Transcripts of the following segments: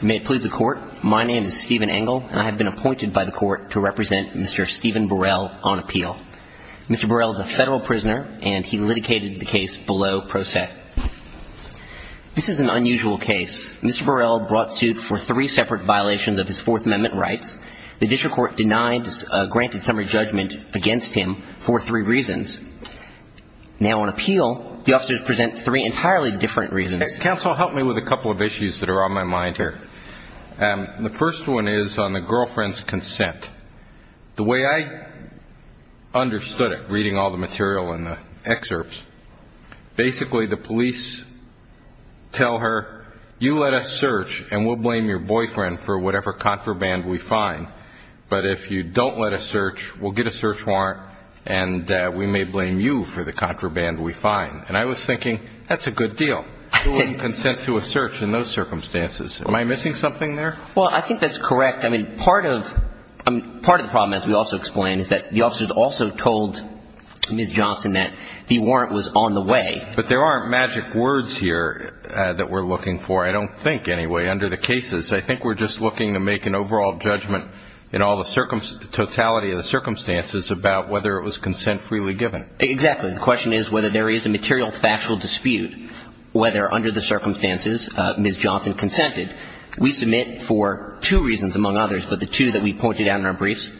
May it please the Court, my name is Stephen Engel and I have been appointed by the Court to represent Mr. Stephen Burrell on appeal. Mr. Burrell is a federal prisoner and he litigated the case below pro se. This is an unusual case. Mr. Burrell brought suit for three separate violations of his Fourth Amendment rights. The district court denied, granted summary judgment against him for three reasons. Now on appeal, the officers present three entirely different reasons. Counsel, help me with a couple of issues that are on my mind here. The first one is on the girlfriend's consent. The way I understood it, reading all the material in the excerpts, basically the police tell her, you let us search and we'll blame your boyfriend for whatever contraband we find, but if you don't let us search, we'll get a search warrant and we may blame you for the contraband we find. And I was thinking, that's a good deal. Who wouldn't consent to a search in those circumstances? Am I missing something there? Well, I think that's correct. I mean, part of the problem, as we also explained, is that the officers also told Ms. Johnson that the warrant was on the way. But there aren't magic words here that we're looking for, I don't think, anyway, under the cases. I think we're just looking to make an overall judgment in all the totality of the circumstances about whether it was consent freely given. Exactly. The question is whether there is a material factual dispute, whether under the circumstances Ms. Johnson consented. We submit for two reasons, among others, but the two that we pointed out in our briefs,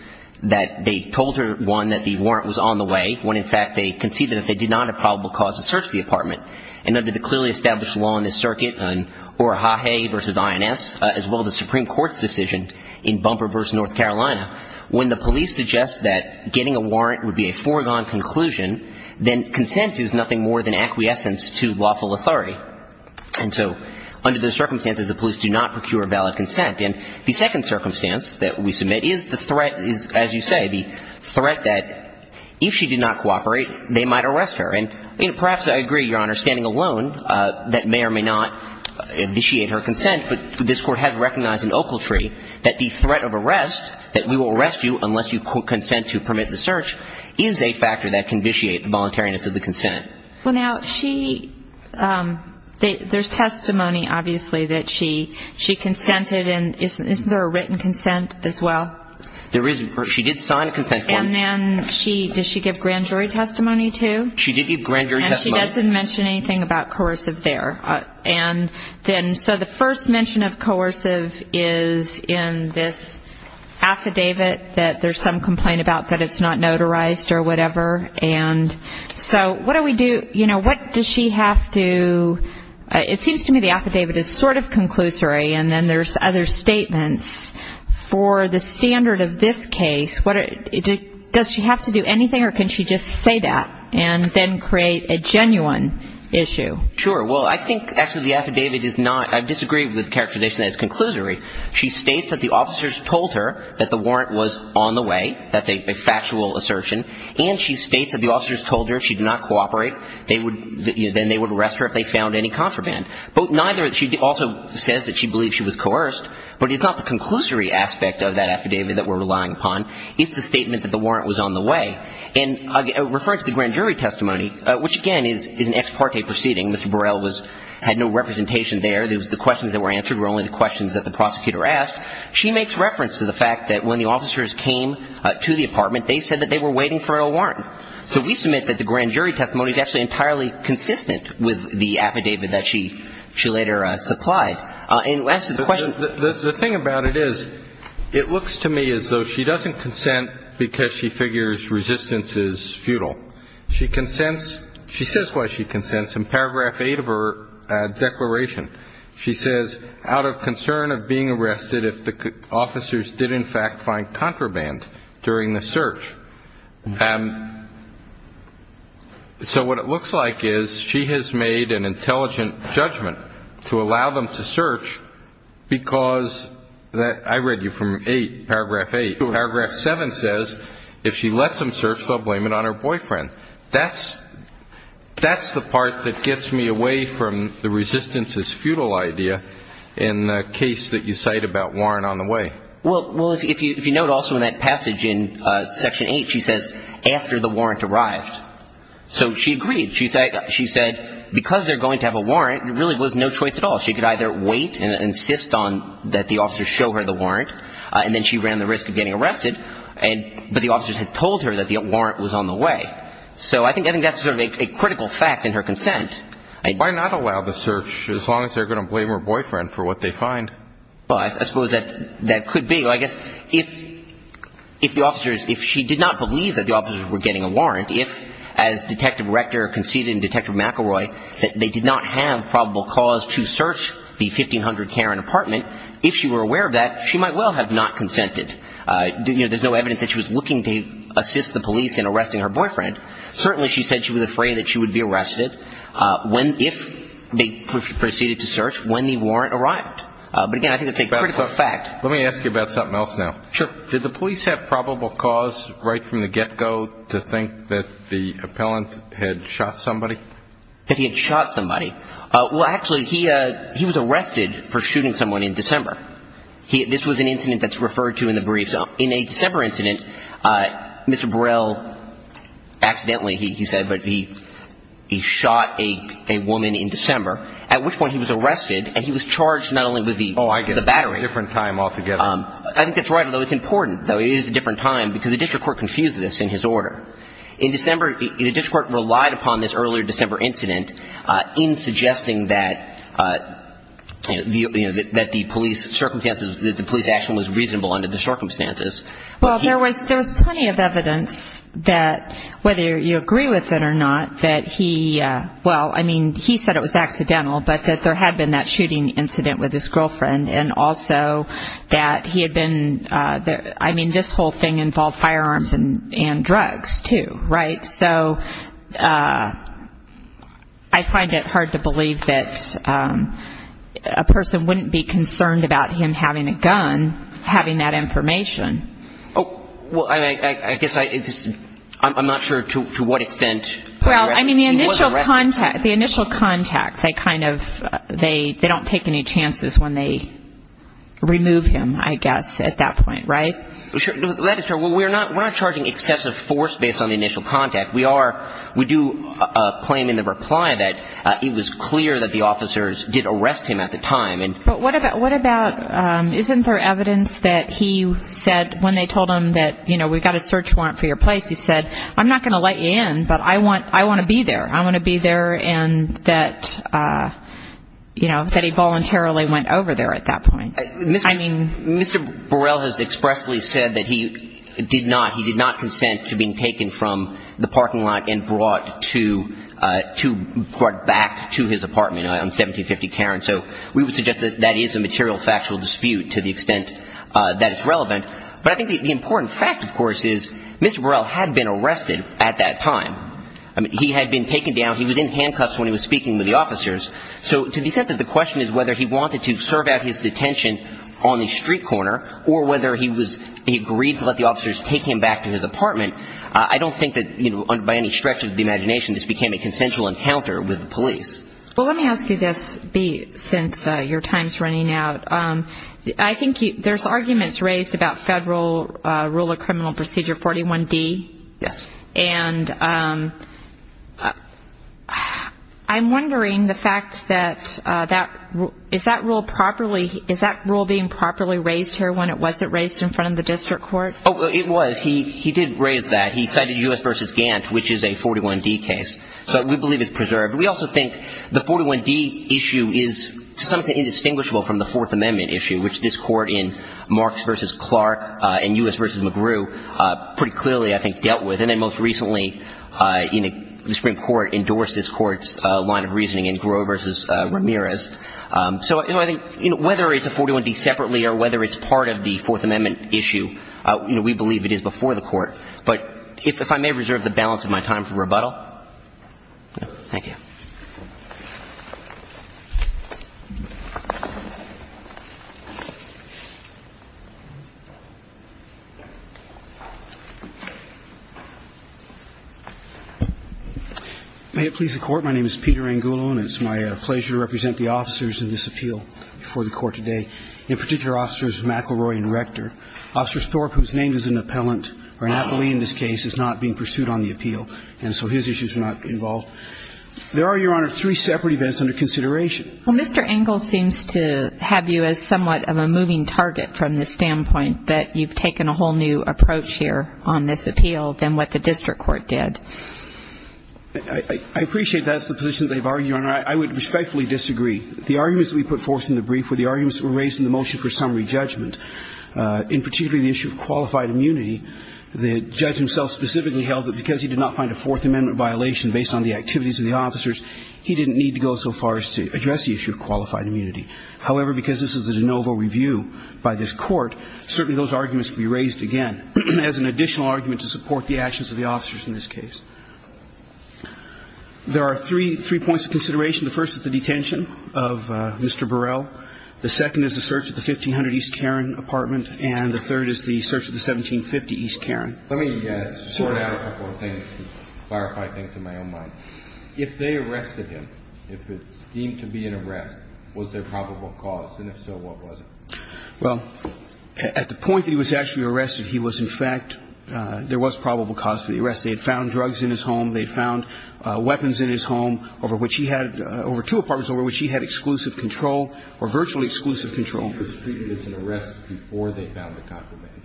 that they told her, one, that the warrant was on the way when, in fact, they conceded that they did not have probable cause to search the apartment. And under the clearly established law in this circuit, Urahae v. INS, as well as the Supreme Court's decision in Bumper v. North Carolina, when the police suggest that getting a warrant would be a foregone conclusion, then consent is nothing more than acquiescence to lawful authority. And so under those circumstances, the police do not procure valid consent. And the second circumstance that we submit is the threat is, as you say, the threat that if she did not cooperate, they might arrest her. And perhaps I agree, Your Honor, standing alone, that may or may not initiate her consent, but this Court has recognized in Oakletree that the threat of arrest, that we will arrest you unless you consent to permit the search, is a factor that can vitiate the voluntariness of the consent. Well, now, she – there's testimony, obviously, that she consented. And isn't there a written consent as well? There is. She did sign a consent form. And then she – does she give grand jury testimony, too? She did give grand jury testimony. And she doesn't mention anything about coercive there. And then – so the first mention of coercive is in this affidavit that there's some complaint about that it's not notarized or whatever. And so what do we do – you know, what does she have to – it seems to me the affidavit is sort of conclusory, and then there's other statements for the standard of this case. Does she have to do anything, or can she just say that and then create a genuine issue? Sure. Well, I think actually the affidavit is not – I disagree with the characterization that it's conclusory. She states that the officers told her that the warrant was on the way. That's a factual assertion. And she states that the officers told her she did not cooperate. They would – then they would arrest her if they found any contraband. But neither – she also says that she believes she was coerced. But it's not the conclusory aspect of that affidavit that we're relying upon. It's the statement that the warrant was on the way. And referring to the grand jury testimony, which, again, is an ex parte proceeding. Mr. Burrell was – had no representation there. The questions that were answered were only the questions that the prosecutor asked. She makes reference to the fact that when the officers came to the apartment, they said that they were waiting for a warrant. So we submit that the grand jury testimony is actually entirely consistent with the affidavit that she later supplied. And as to the question – It looks to me as though she doesn't consent because she figures resistance is futile. She consents – she says why she consents in paragraph 8 of her declaration. She says, out of concern of being arrested if the officers did, in fact, find contraband during the search. And so what it looks like is she has made an intelligent judgment to allow them to search because – I read you from 8, paragraph 8. Paragraph 7 says, if she lets them search, they'll blame it on her boyfriend. That's the part that gets me away from the resistance is futile idea in the case that you cite about warrant on the way. Well, if you note also in that passage in section 8, she says, after the warrant arrived. So she agreed. She said because they're going to have a warrant, there really was no choice at all. She could either wait and insist on that the officers show her the warrant, and then she ran the risk of getting arrested. But the officers had told her that the warrant was on the way. So I think that's sort of a critical fact in her consent. Why not allow the search as long as they're going to blame her boyfriend for what they find? Well, I suppose that could be. I guess if the officers – if she did not believe that the officers were getting a warrant, if, as Detective Rector conceded in Detective McElroy, that they did not have probable cause to search the 1500 Karen apartment, if she were aware of that, she might well have not consented. There's no evidence that she was looking to assist the police in arresting her boyfriend. Certainly she said she was afraid that she would be arrested if they proceeded to search when the warrant arrived. But, again, I think it's a critical fact. Let me ask you about something else now. Sure. Did the police have probable cause right from the get-go to think that the appellant had shot somebody? That he had shot somebody. Well, actually, he was arrested for shooting someone in December. This was an incident that's referred to in the briefs. In a December incident, Mr. Burrell accidentally, he said, but he shot a woman in December, at which point he was arrested and he was charged not only with the battery. Oh, I get it. It's a different time altogether. I think that's right, although it's important, though. It is a different time because the district court confused this in his order. In December – the district court relied upon this earlier December incident in suggesting that the police circumstances – that the police action was reasonable under the circumstances. Well, there was plenty of evidence that, whether you agree with it or not, that he – well, I mean, he said it was accidental, but that there had been that shooting incident with his girlfriend and also that he had been – I mean, this whole thing involved firearms and drugs, too, right? So I find it hard to believe that a person wouldn't be concerned about him having a gun, having that information. Oh, well, I guess I – I'm not sure to what extent he was arrested. Well, I mean, the initial contact, they kind of – they don't take any chances when they remove him, I guess, at that point, right? Well, we're not charging excessive force based on the initial contact. We are – we do claim in the reply that it was clear that the officers did arrest him at the time. But what about – isn't there evidence that he said – when they told him that, you know, we've got a search warrant for your place, he said, I'm not going to let you in, but I want to be there. I want to be there and that, you know, that he voluntarily went over there at that point. I mean, Mr. Burrell has expressly said that he did not – he did not consent to being taken from the parking lot and brought to – brought back to his apartment on 1750 Cairn. So we would suggest that that is a material factual dispute to the extent that it's relevant. But I think the important fact, of course, is Mr. Burrell had been arrested at that time. I mean, he had been taken down. He was in handcuffs when he was speaking with the officers. So to the extent that the question is whether he wanted to serve out his detention on the street corner or whether he was – he agreed to let the officers take him back to his apartment, I don't think that, you know, by any stretch of the imagination, this became a consensual encounter with the police. Well, let me ask you this, Bea, since your time's running out. I think there's arguments raised about federal rule of criminal procedure 41D. Yes. And I'm wondering the fact that that – is that rule properly – is that rule being properly raised here when it wasn't raised in front of the district court? Oh, it was. He did raise that. He cited U.S. v. Gantt, which is a 41D case. So we believe it's preserved. We also think the 41D issue is to some extent indistinguishable from the Fourth Amendment issue, which this court in Marx v. Clark and U.S. v. McGrew pretty clearly, I think, dealt with. And then most recently, the Supreme Court endorsed this court's line of reasoning in Grew v. Ramirez. So, you know, I think whether it's a 41D separately or whether it's part of the Fourth Amendment issue, we believe it is before the court. But if I may reserve the balance of my time for rebuttal. Thank you. May it please the Court. My name is Peter Angulo, and it's my pleasure to represent the officers in this appeal before the Court today, in particular, Officers McElroy and Rector. Officer Thorpe, whose name is in the appellant or an appellee in this case, is not being pursued on the appeal, and so his issues are not involved. There are, Your Honor, three separate events under consideration. Well, Mr. Angulo seems to have you as somewhat of a moving target from the standpoint that you've taken a whole new approach here on this appeal than what the district court did. I appreciate that's the position they've argued, Your Honor. I would respectfully disagree. The arguments that we put forth in the brief were the arguments that were raised in the motion for summary judgment. In particular, the issue of qualified immunity, the judge himself specifically held that because he did not find a Fourth Amendment violation based on the activities of the officers, he didn't need to go so far as to address the issue of qualified immunity. However, because this is a de novo review by this Court, certainly those arguments can be raised again as an additional argument to support the actions of the officers in this case. There are three points of consideration. The first is the detention of Mr. Burrell. The second is the search of the 1500 East Cairn apartment. And the third is the search of the 1750 East Cairn. Let me sort out a couple of things to clarify things in my own mind. If they arrested him, if it seemed to be an arrest, was there probable cause? And if so, what was it? Well, at the point that he was actually arrested, he was in fact – there was probable cause for the arrest. They had found drugs in his home. They had found weapons in his home over which he had – over two apartments over which he had exclusive control or virtually exclusive control. If they found the contraband,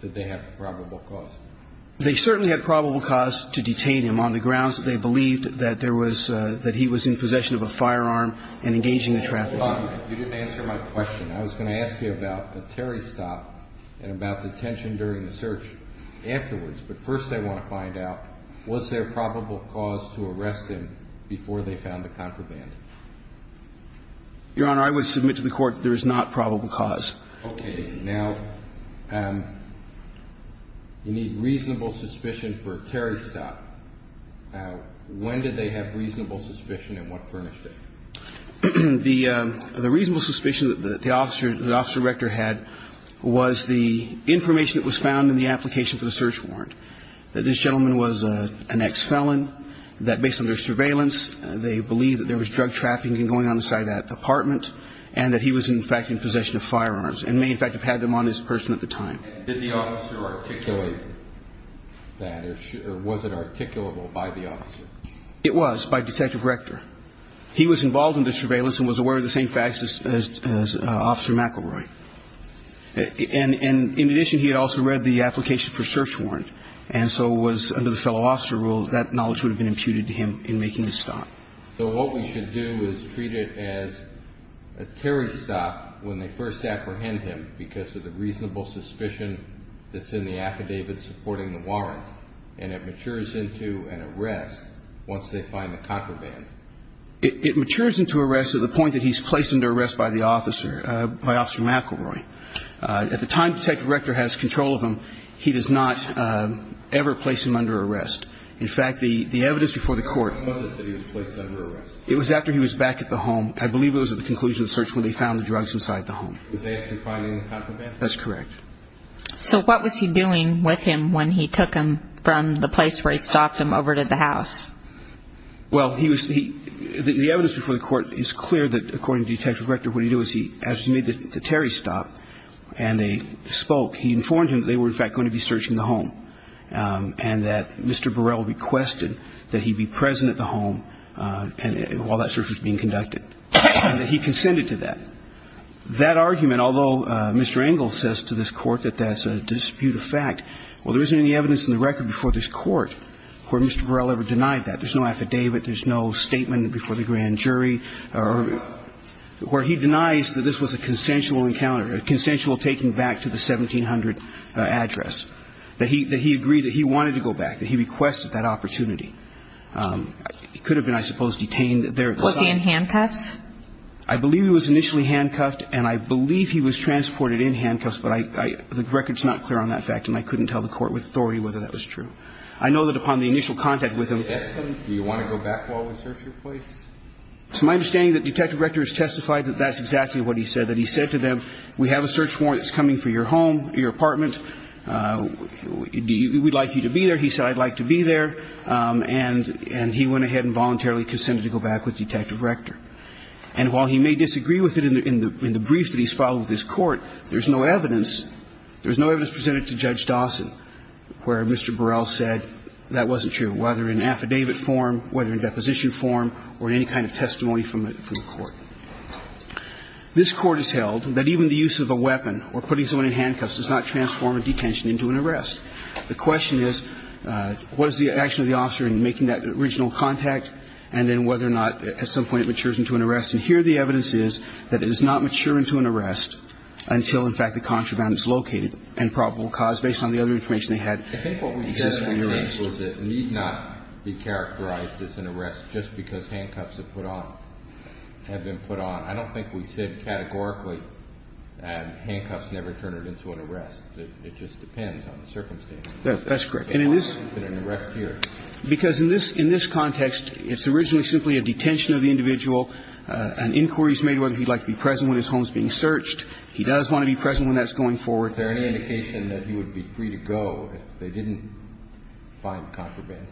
did they have probable cause? They certainly had probable cause to detain him on the grounds that they believed that there was – that he was in possession of a firearm and engaging the trafficker. You didn't answer my question. I was going to ask you about the Terry stop and about the detention during the search afterwards. But first I want to find out, was there probable cause to arrest him before they found the contraband? Your Honor, I would submit to the Court that there is not probable cause. Okay. Now, you need reasonable suspicion for a Terry stop. When did they have reasonable suspicion and what furnished it? The reasonable suspicion that the officer – the officer director had was the information that was found in the application for the search warrant, that this gentleman was an ex-felon, that based on their surveillance, they believed that there was drug trafficking going on inside that apartment and that he was, in fact, in possession of firearms and may, in fact, have had them on his person at the time. Did the officer articulate that? Or was it articulable by the officer? It was, by Detective Rector. He was involved in the surveillance and was aware of the same facts as Officer McElroy. And in addition, he had also read the application for search warrant and so was, under the fellow officer rule, that knowledge would have been imputed to him in making the stop. So what we should do is treat it as a Terry stop when they first apprehend him because of the reasonable suspicion that's in the affidavit supporting the warrant and it matures into an arrest once they find the contraband. It matures into arrest to the point that he's placed under arrest by the officer – by Officer McElroy. At the time Detective Rector has control of him, he does not ever place him under arrest. In fact, the evidence before the court – When was it that he was placed under arrest? It was after he was back at the home. I believe it was at the conclusion of the search when they found the drugs inside the home. Was they after finding the contraband? That's correct. So what was he doing with him when he took him from the place where he stopped him over to the house? Well, he was – the evidence before the court is clear that, according to Detective Rector, what he did was he – as he made the Terry stop and they spoke, he informed him that they were, in fact, going to be searching the home and that Mr. Burrell requested that he be present at the home while that search was being conducted and that he consented to that. That argument, although Mr. Engle says to this court that that's a dispute of fact, well, there isn't any evidence in the record before this court where Mr. Burrell ever denied that. There's no affidavit. There's no statement before the grand jury or – where he denies that this was a consensual encounter, a consensual taking back to the 1700 address, that he – that he agreed that he wanted to go back, that he requested that opportunity. He could have been, I suppose, detained there at the site. Was he in handcuffs? I believe he was initially handcuffed and I believe he was transported in handcuffs, but I – the record's not clear on that fact and I couldn't tell the court with authority whether that was true. I know that upon the initial contact with him – Do you want to go back while we search your place? It's my understanding that Detective Rector has testified that that's exactly what he said, that he said to them, we have a search warrant that's coming for your home, your apartment. We'd like you to be there. He said, I'd like to be there, and he went ahead and voluntarily consented to go back with Detective Rector. And while he may disagree with it in the brief that he's filed with this court, there's no evidence – there's no evidence presented to Judge Dawson where Mr. Burrell said that wasn't true, whether in affidavit form, whether in deposition form, or in any kind of testimony from the court. This Court has held that even the use of a weapon or putting someone in handcuffs does not transform a detention into an arrest. The question is, what is the action of the officer in making that original contact and then whether or not at some point it matures into an arrest? And here the evidence is that it does not mature into an arrest until, in fact, the contraband is located and probable cause, based on the other information they had, exists for an arrest. I think what we said in that case was it need not be characterized as an arrest just because handcuffs have put on – have been put on. I don't think we said categorically that handcuffs never turn into an arrest. It just depends on the circumstances. That's correct. And in this – It's been an arrest here. Because in this – in this context, it's originally simply a detention of the individual. An inquiry is made whether he'd like to be present when his home is being searched. He does want to be present when that's going forward. Is there any indication that he would be free to go if they didn't find contraband?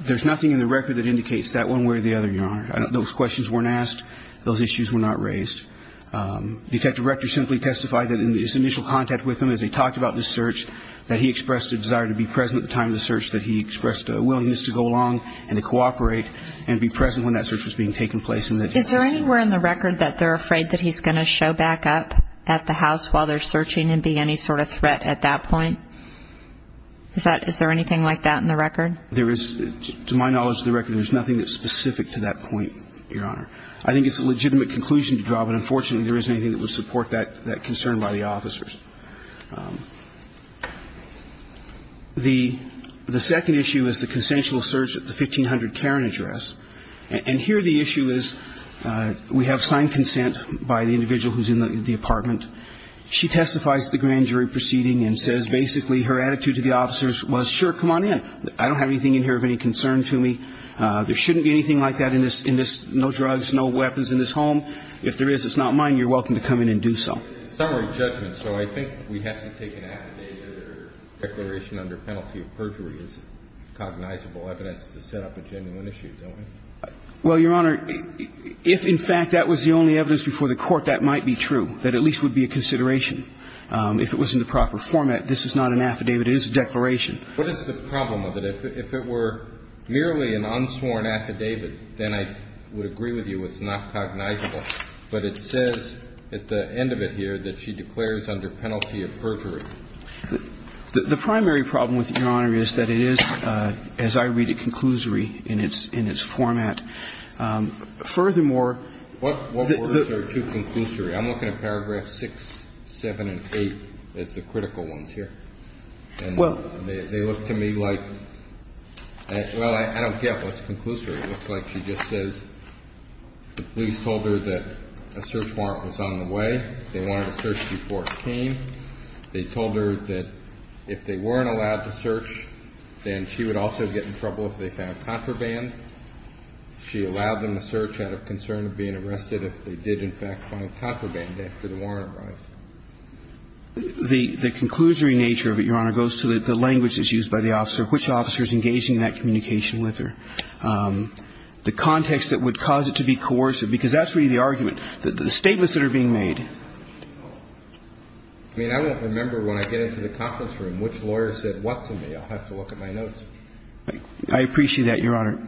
There's nothing in the record that indicates that one way or the other, Your Honor. Those questions weren't asked. Those issues were not raised. Detective Rector simply testified that in his initial contact with him, as he talked about the search, that he expressed a desire to be present at the time of the search, that he expressed a willingness to go along and to cooperate and be present when that search was being taken place. Is there anywhere in the record that they're afraid that he's going to show back up at the house while they're searching and be any sort of threat at that point? Is that – is there anything like that in the record? There is – to my knowledge of the record, there's nothing that's specific to that point, Your Honor. I think it's a legitimate conclusion to draw, but unfortunately there isn't anything that would support that concern by the officers. The second issue is the consensual search at the 1500 Cairn address. And here the issue is we have signed consent by the individual who's in the apartment. She testifies at the grand jury proceeding and says basically her attitude to the officers was, sure, come on in. I don't have anything in here of any concern to me. There shouldn't be anything like that in this – in this – no drugs, no weapons in this home. If there is, it's not mine. You're welcome to come in and do so. It's a summary judgment, so I think we have to take an act today that a declaration under penalty of perjury is cognizable evidence to set up a genuine issue, don't we? Well, Your Honor, if in fact that was the only evidence before the Court, that might be true, that at least would be a consideration. If it was in the proper format, this is not an affidavit. It is a declaration. What is the problem with it? If it were merely an unsworn affidavit, then I would agree with you it's not cognizable. But it says at the end of it here that she declares under penalty of perjury. The primary problem with it, Your Honor, is that it is, as I read it, conclusory in its – in its format. Furthermore, the – What words are too conclusory? I'm looking at paragraphs 6, 7, and 8 as the critical ones here. And they look to me like – well, I don't get what's conclusory. It looks like she just says the police told her that a search warrant was on the way. They wanted to search before it came. They told her that if they weren't allowed to search, then she would also get in trouble if they found contraband. She allowed them a search out of concern of being arrested if they did, in fact, find contraband after the warrant arrived. The – the conclusory nature of it, Your Honor, goes to the language that's used by the officer, which officer is engaging in that communication with her, the context that would cause it to be coercive, because that's really the argument. The statements that are being made. I mean, I won't remember when I get into the conference room which lawyer said what to me. I'll have to look at my notes. I appreciate that, Your Honor.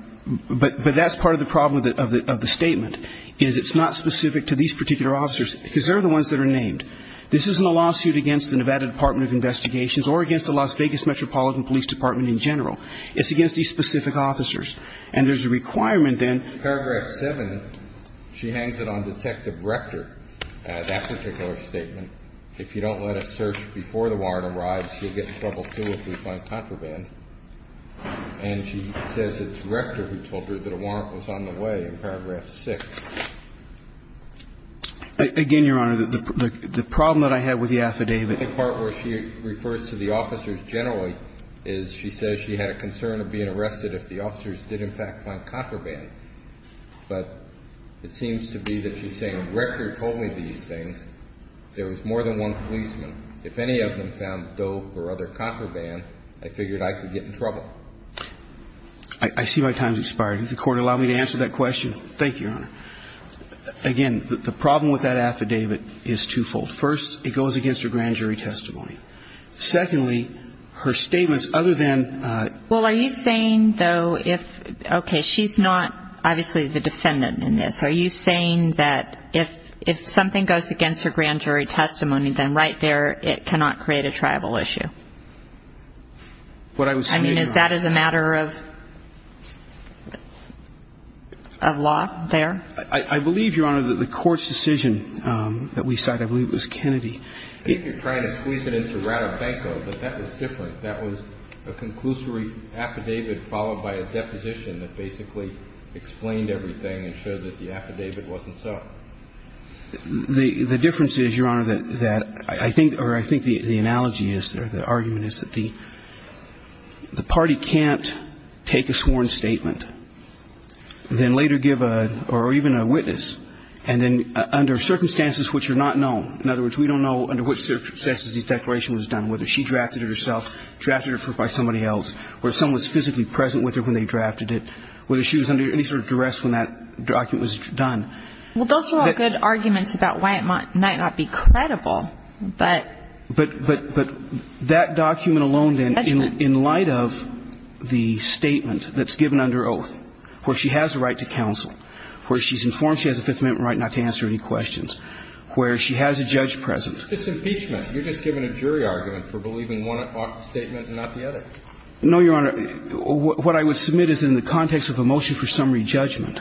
But that's part of the problem of the statement, is it's not specific to these particular officers, because they're the ones that are named. This isn't a lawsuit against the Nevada Department of Investigations or against the Las Vegas Metropolitan Police Department in general. It's against these specific officers. And there's a requirement then – In paragraph 7, she hangs it on Detective Rector, that particular statement. If you don't let us search before the warrant arrives, you'll get in trouble, too, if we find contraband. And she says it's Rector who told her that a warrant was on the way in paragraph 6. Again, Your Honor, the problem that I had with the affidavit – The part where she refers to the officers generally is she says she had a concern of being arrested if the officers did in fact find contraband. But it seems to be that she's saying if Rector told me these things, there was more than one policeman. If any of them found dope or other contraband, I figured I could get in trouble. I see my time has expired. Does the Court allow me to answer that question? Thank you, Your Honor. Again, the problem with that affidavit is twofold. First, it goes against her grand jury testimony. Secondly, her statements other than – Well, are you saying, though, if – Okay, she's not obviously the defendant in this. Are you saying that if something goes against her grand jury testimony, then right there, it cannot create a tribal issue? What I was saying, Your Honor – I mean, is that as a matter of law there? I believe, Your Honor, that the Court's decision that we cited, I believe it was Kennedy. I think you're trying to squeeze it into Ratabanko, but that was different. That was a conclusory affidavit followed by a deposition that basically explained everything and showed that the affidavit wasn't so. The difference is, Your Honor, that I think – or I think the analogy is there, the argument is that the party can't take a sworn statement, then later give a – or even a witness, and then under circumstances which are not known – in other words, we don't know under which circumstances the declaration was done, whether she drafted it herself, drafted it by somebody else, or someone was physically present with her when they drafted it, whether she was under any sort of duress when that document was done. Well, those are all good arguments about why it might not be credible, but – But that document alone, then, in light of the statement that's given under oath, where she has a right to counsel, where she's informed she has a Fifth Amendment right not to answer any questions, where she has a judge presence. It's just impeachment. You're just giving a jury argument for believing one statement and not the other. No, Your Honor. Your Honor, what I would submit is in the context of a motion for summary judgment,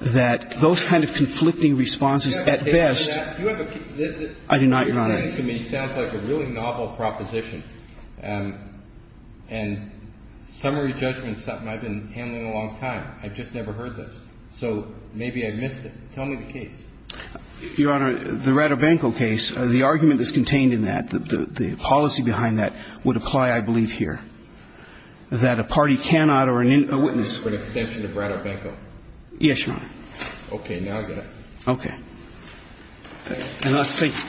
that those kind of conflicting responses at best – Do you have a case for that? I do not, Your Honor. Your argument to me sounds like a really novel proposition, and summary judgment is something I've been handling a long time. I've just never heard this. So maybe I missed it. Tell me the case. Your Honor, the Ratobanco case, the argument that's contained in that, the policy behind that would apply, I believe, here. That a party cannot or a witness – For an extension to Ratobanco. Yes, Your Honor. Okay, now I get it. Okay. And last statement.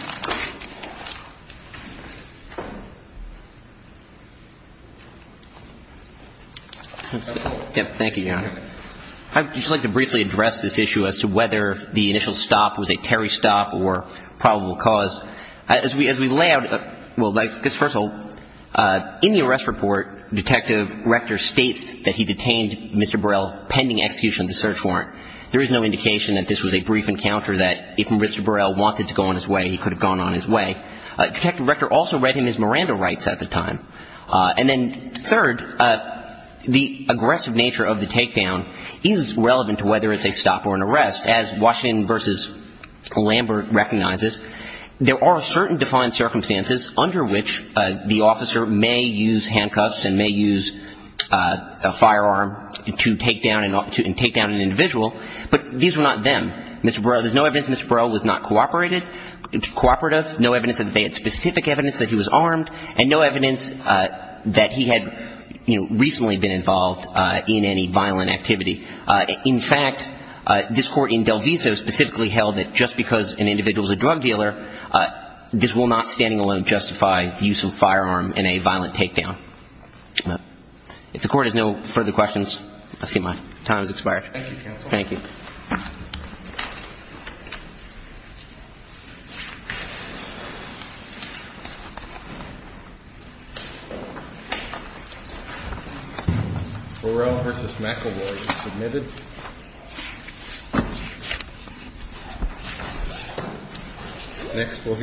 Thank you, Your Honor. I would just like to briefly address this issue as to whether the initial stop was a Terry stop or probable cause. As we lay out – well, first of all, in the arrest report, Detective Rector states that he detained Mr. Burrell pending execution of the search warrant. There is no indication that this was a brief encounter that if Mr. Burrell wanted to go on his way, he could have gone on his way. Detective Rector also read him his Miranda rights at the time. And then third, the aggressive nature of the takedown is relevant to whether it's a stop or an arrest. As Washington v. Lambert recognizes, there are certain defined circumstances under which the officer may use handcuffs and may use a firearm to take down an individual, but these were not them. Mr. Burrell – there's no evidence Mr. Burrell was not cooperated – cooperative, no evidence that they had specific evidence that he was armed, and no evidence that he had, you know, recently been involved in any violent activity. In fact, this Court in Del Viso specifically held that just because an individual is a drug dealer, this will not standing alone justify the use of a firearm in a violent takedown. If the Court has no further questions, I see my time has expired. Thank you, Counsel. Thank you. Thank you.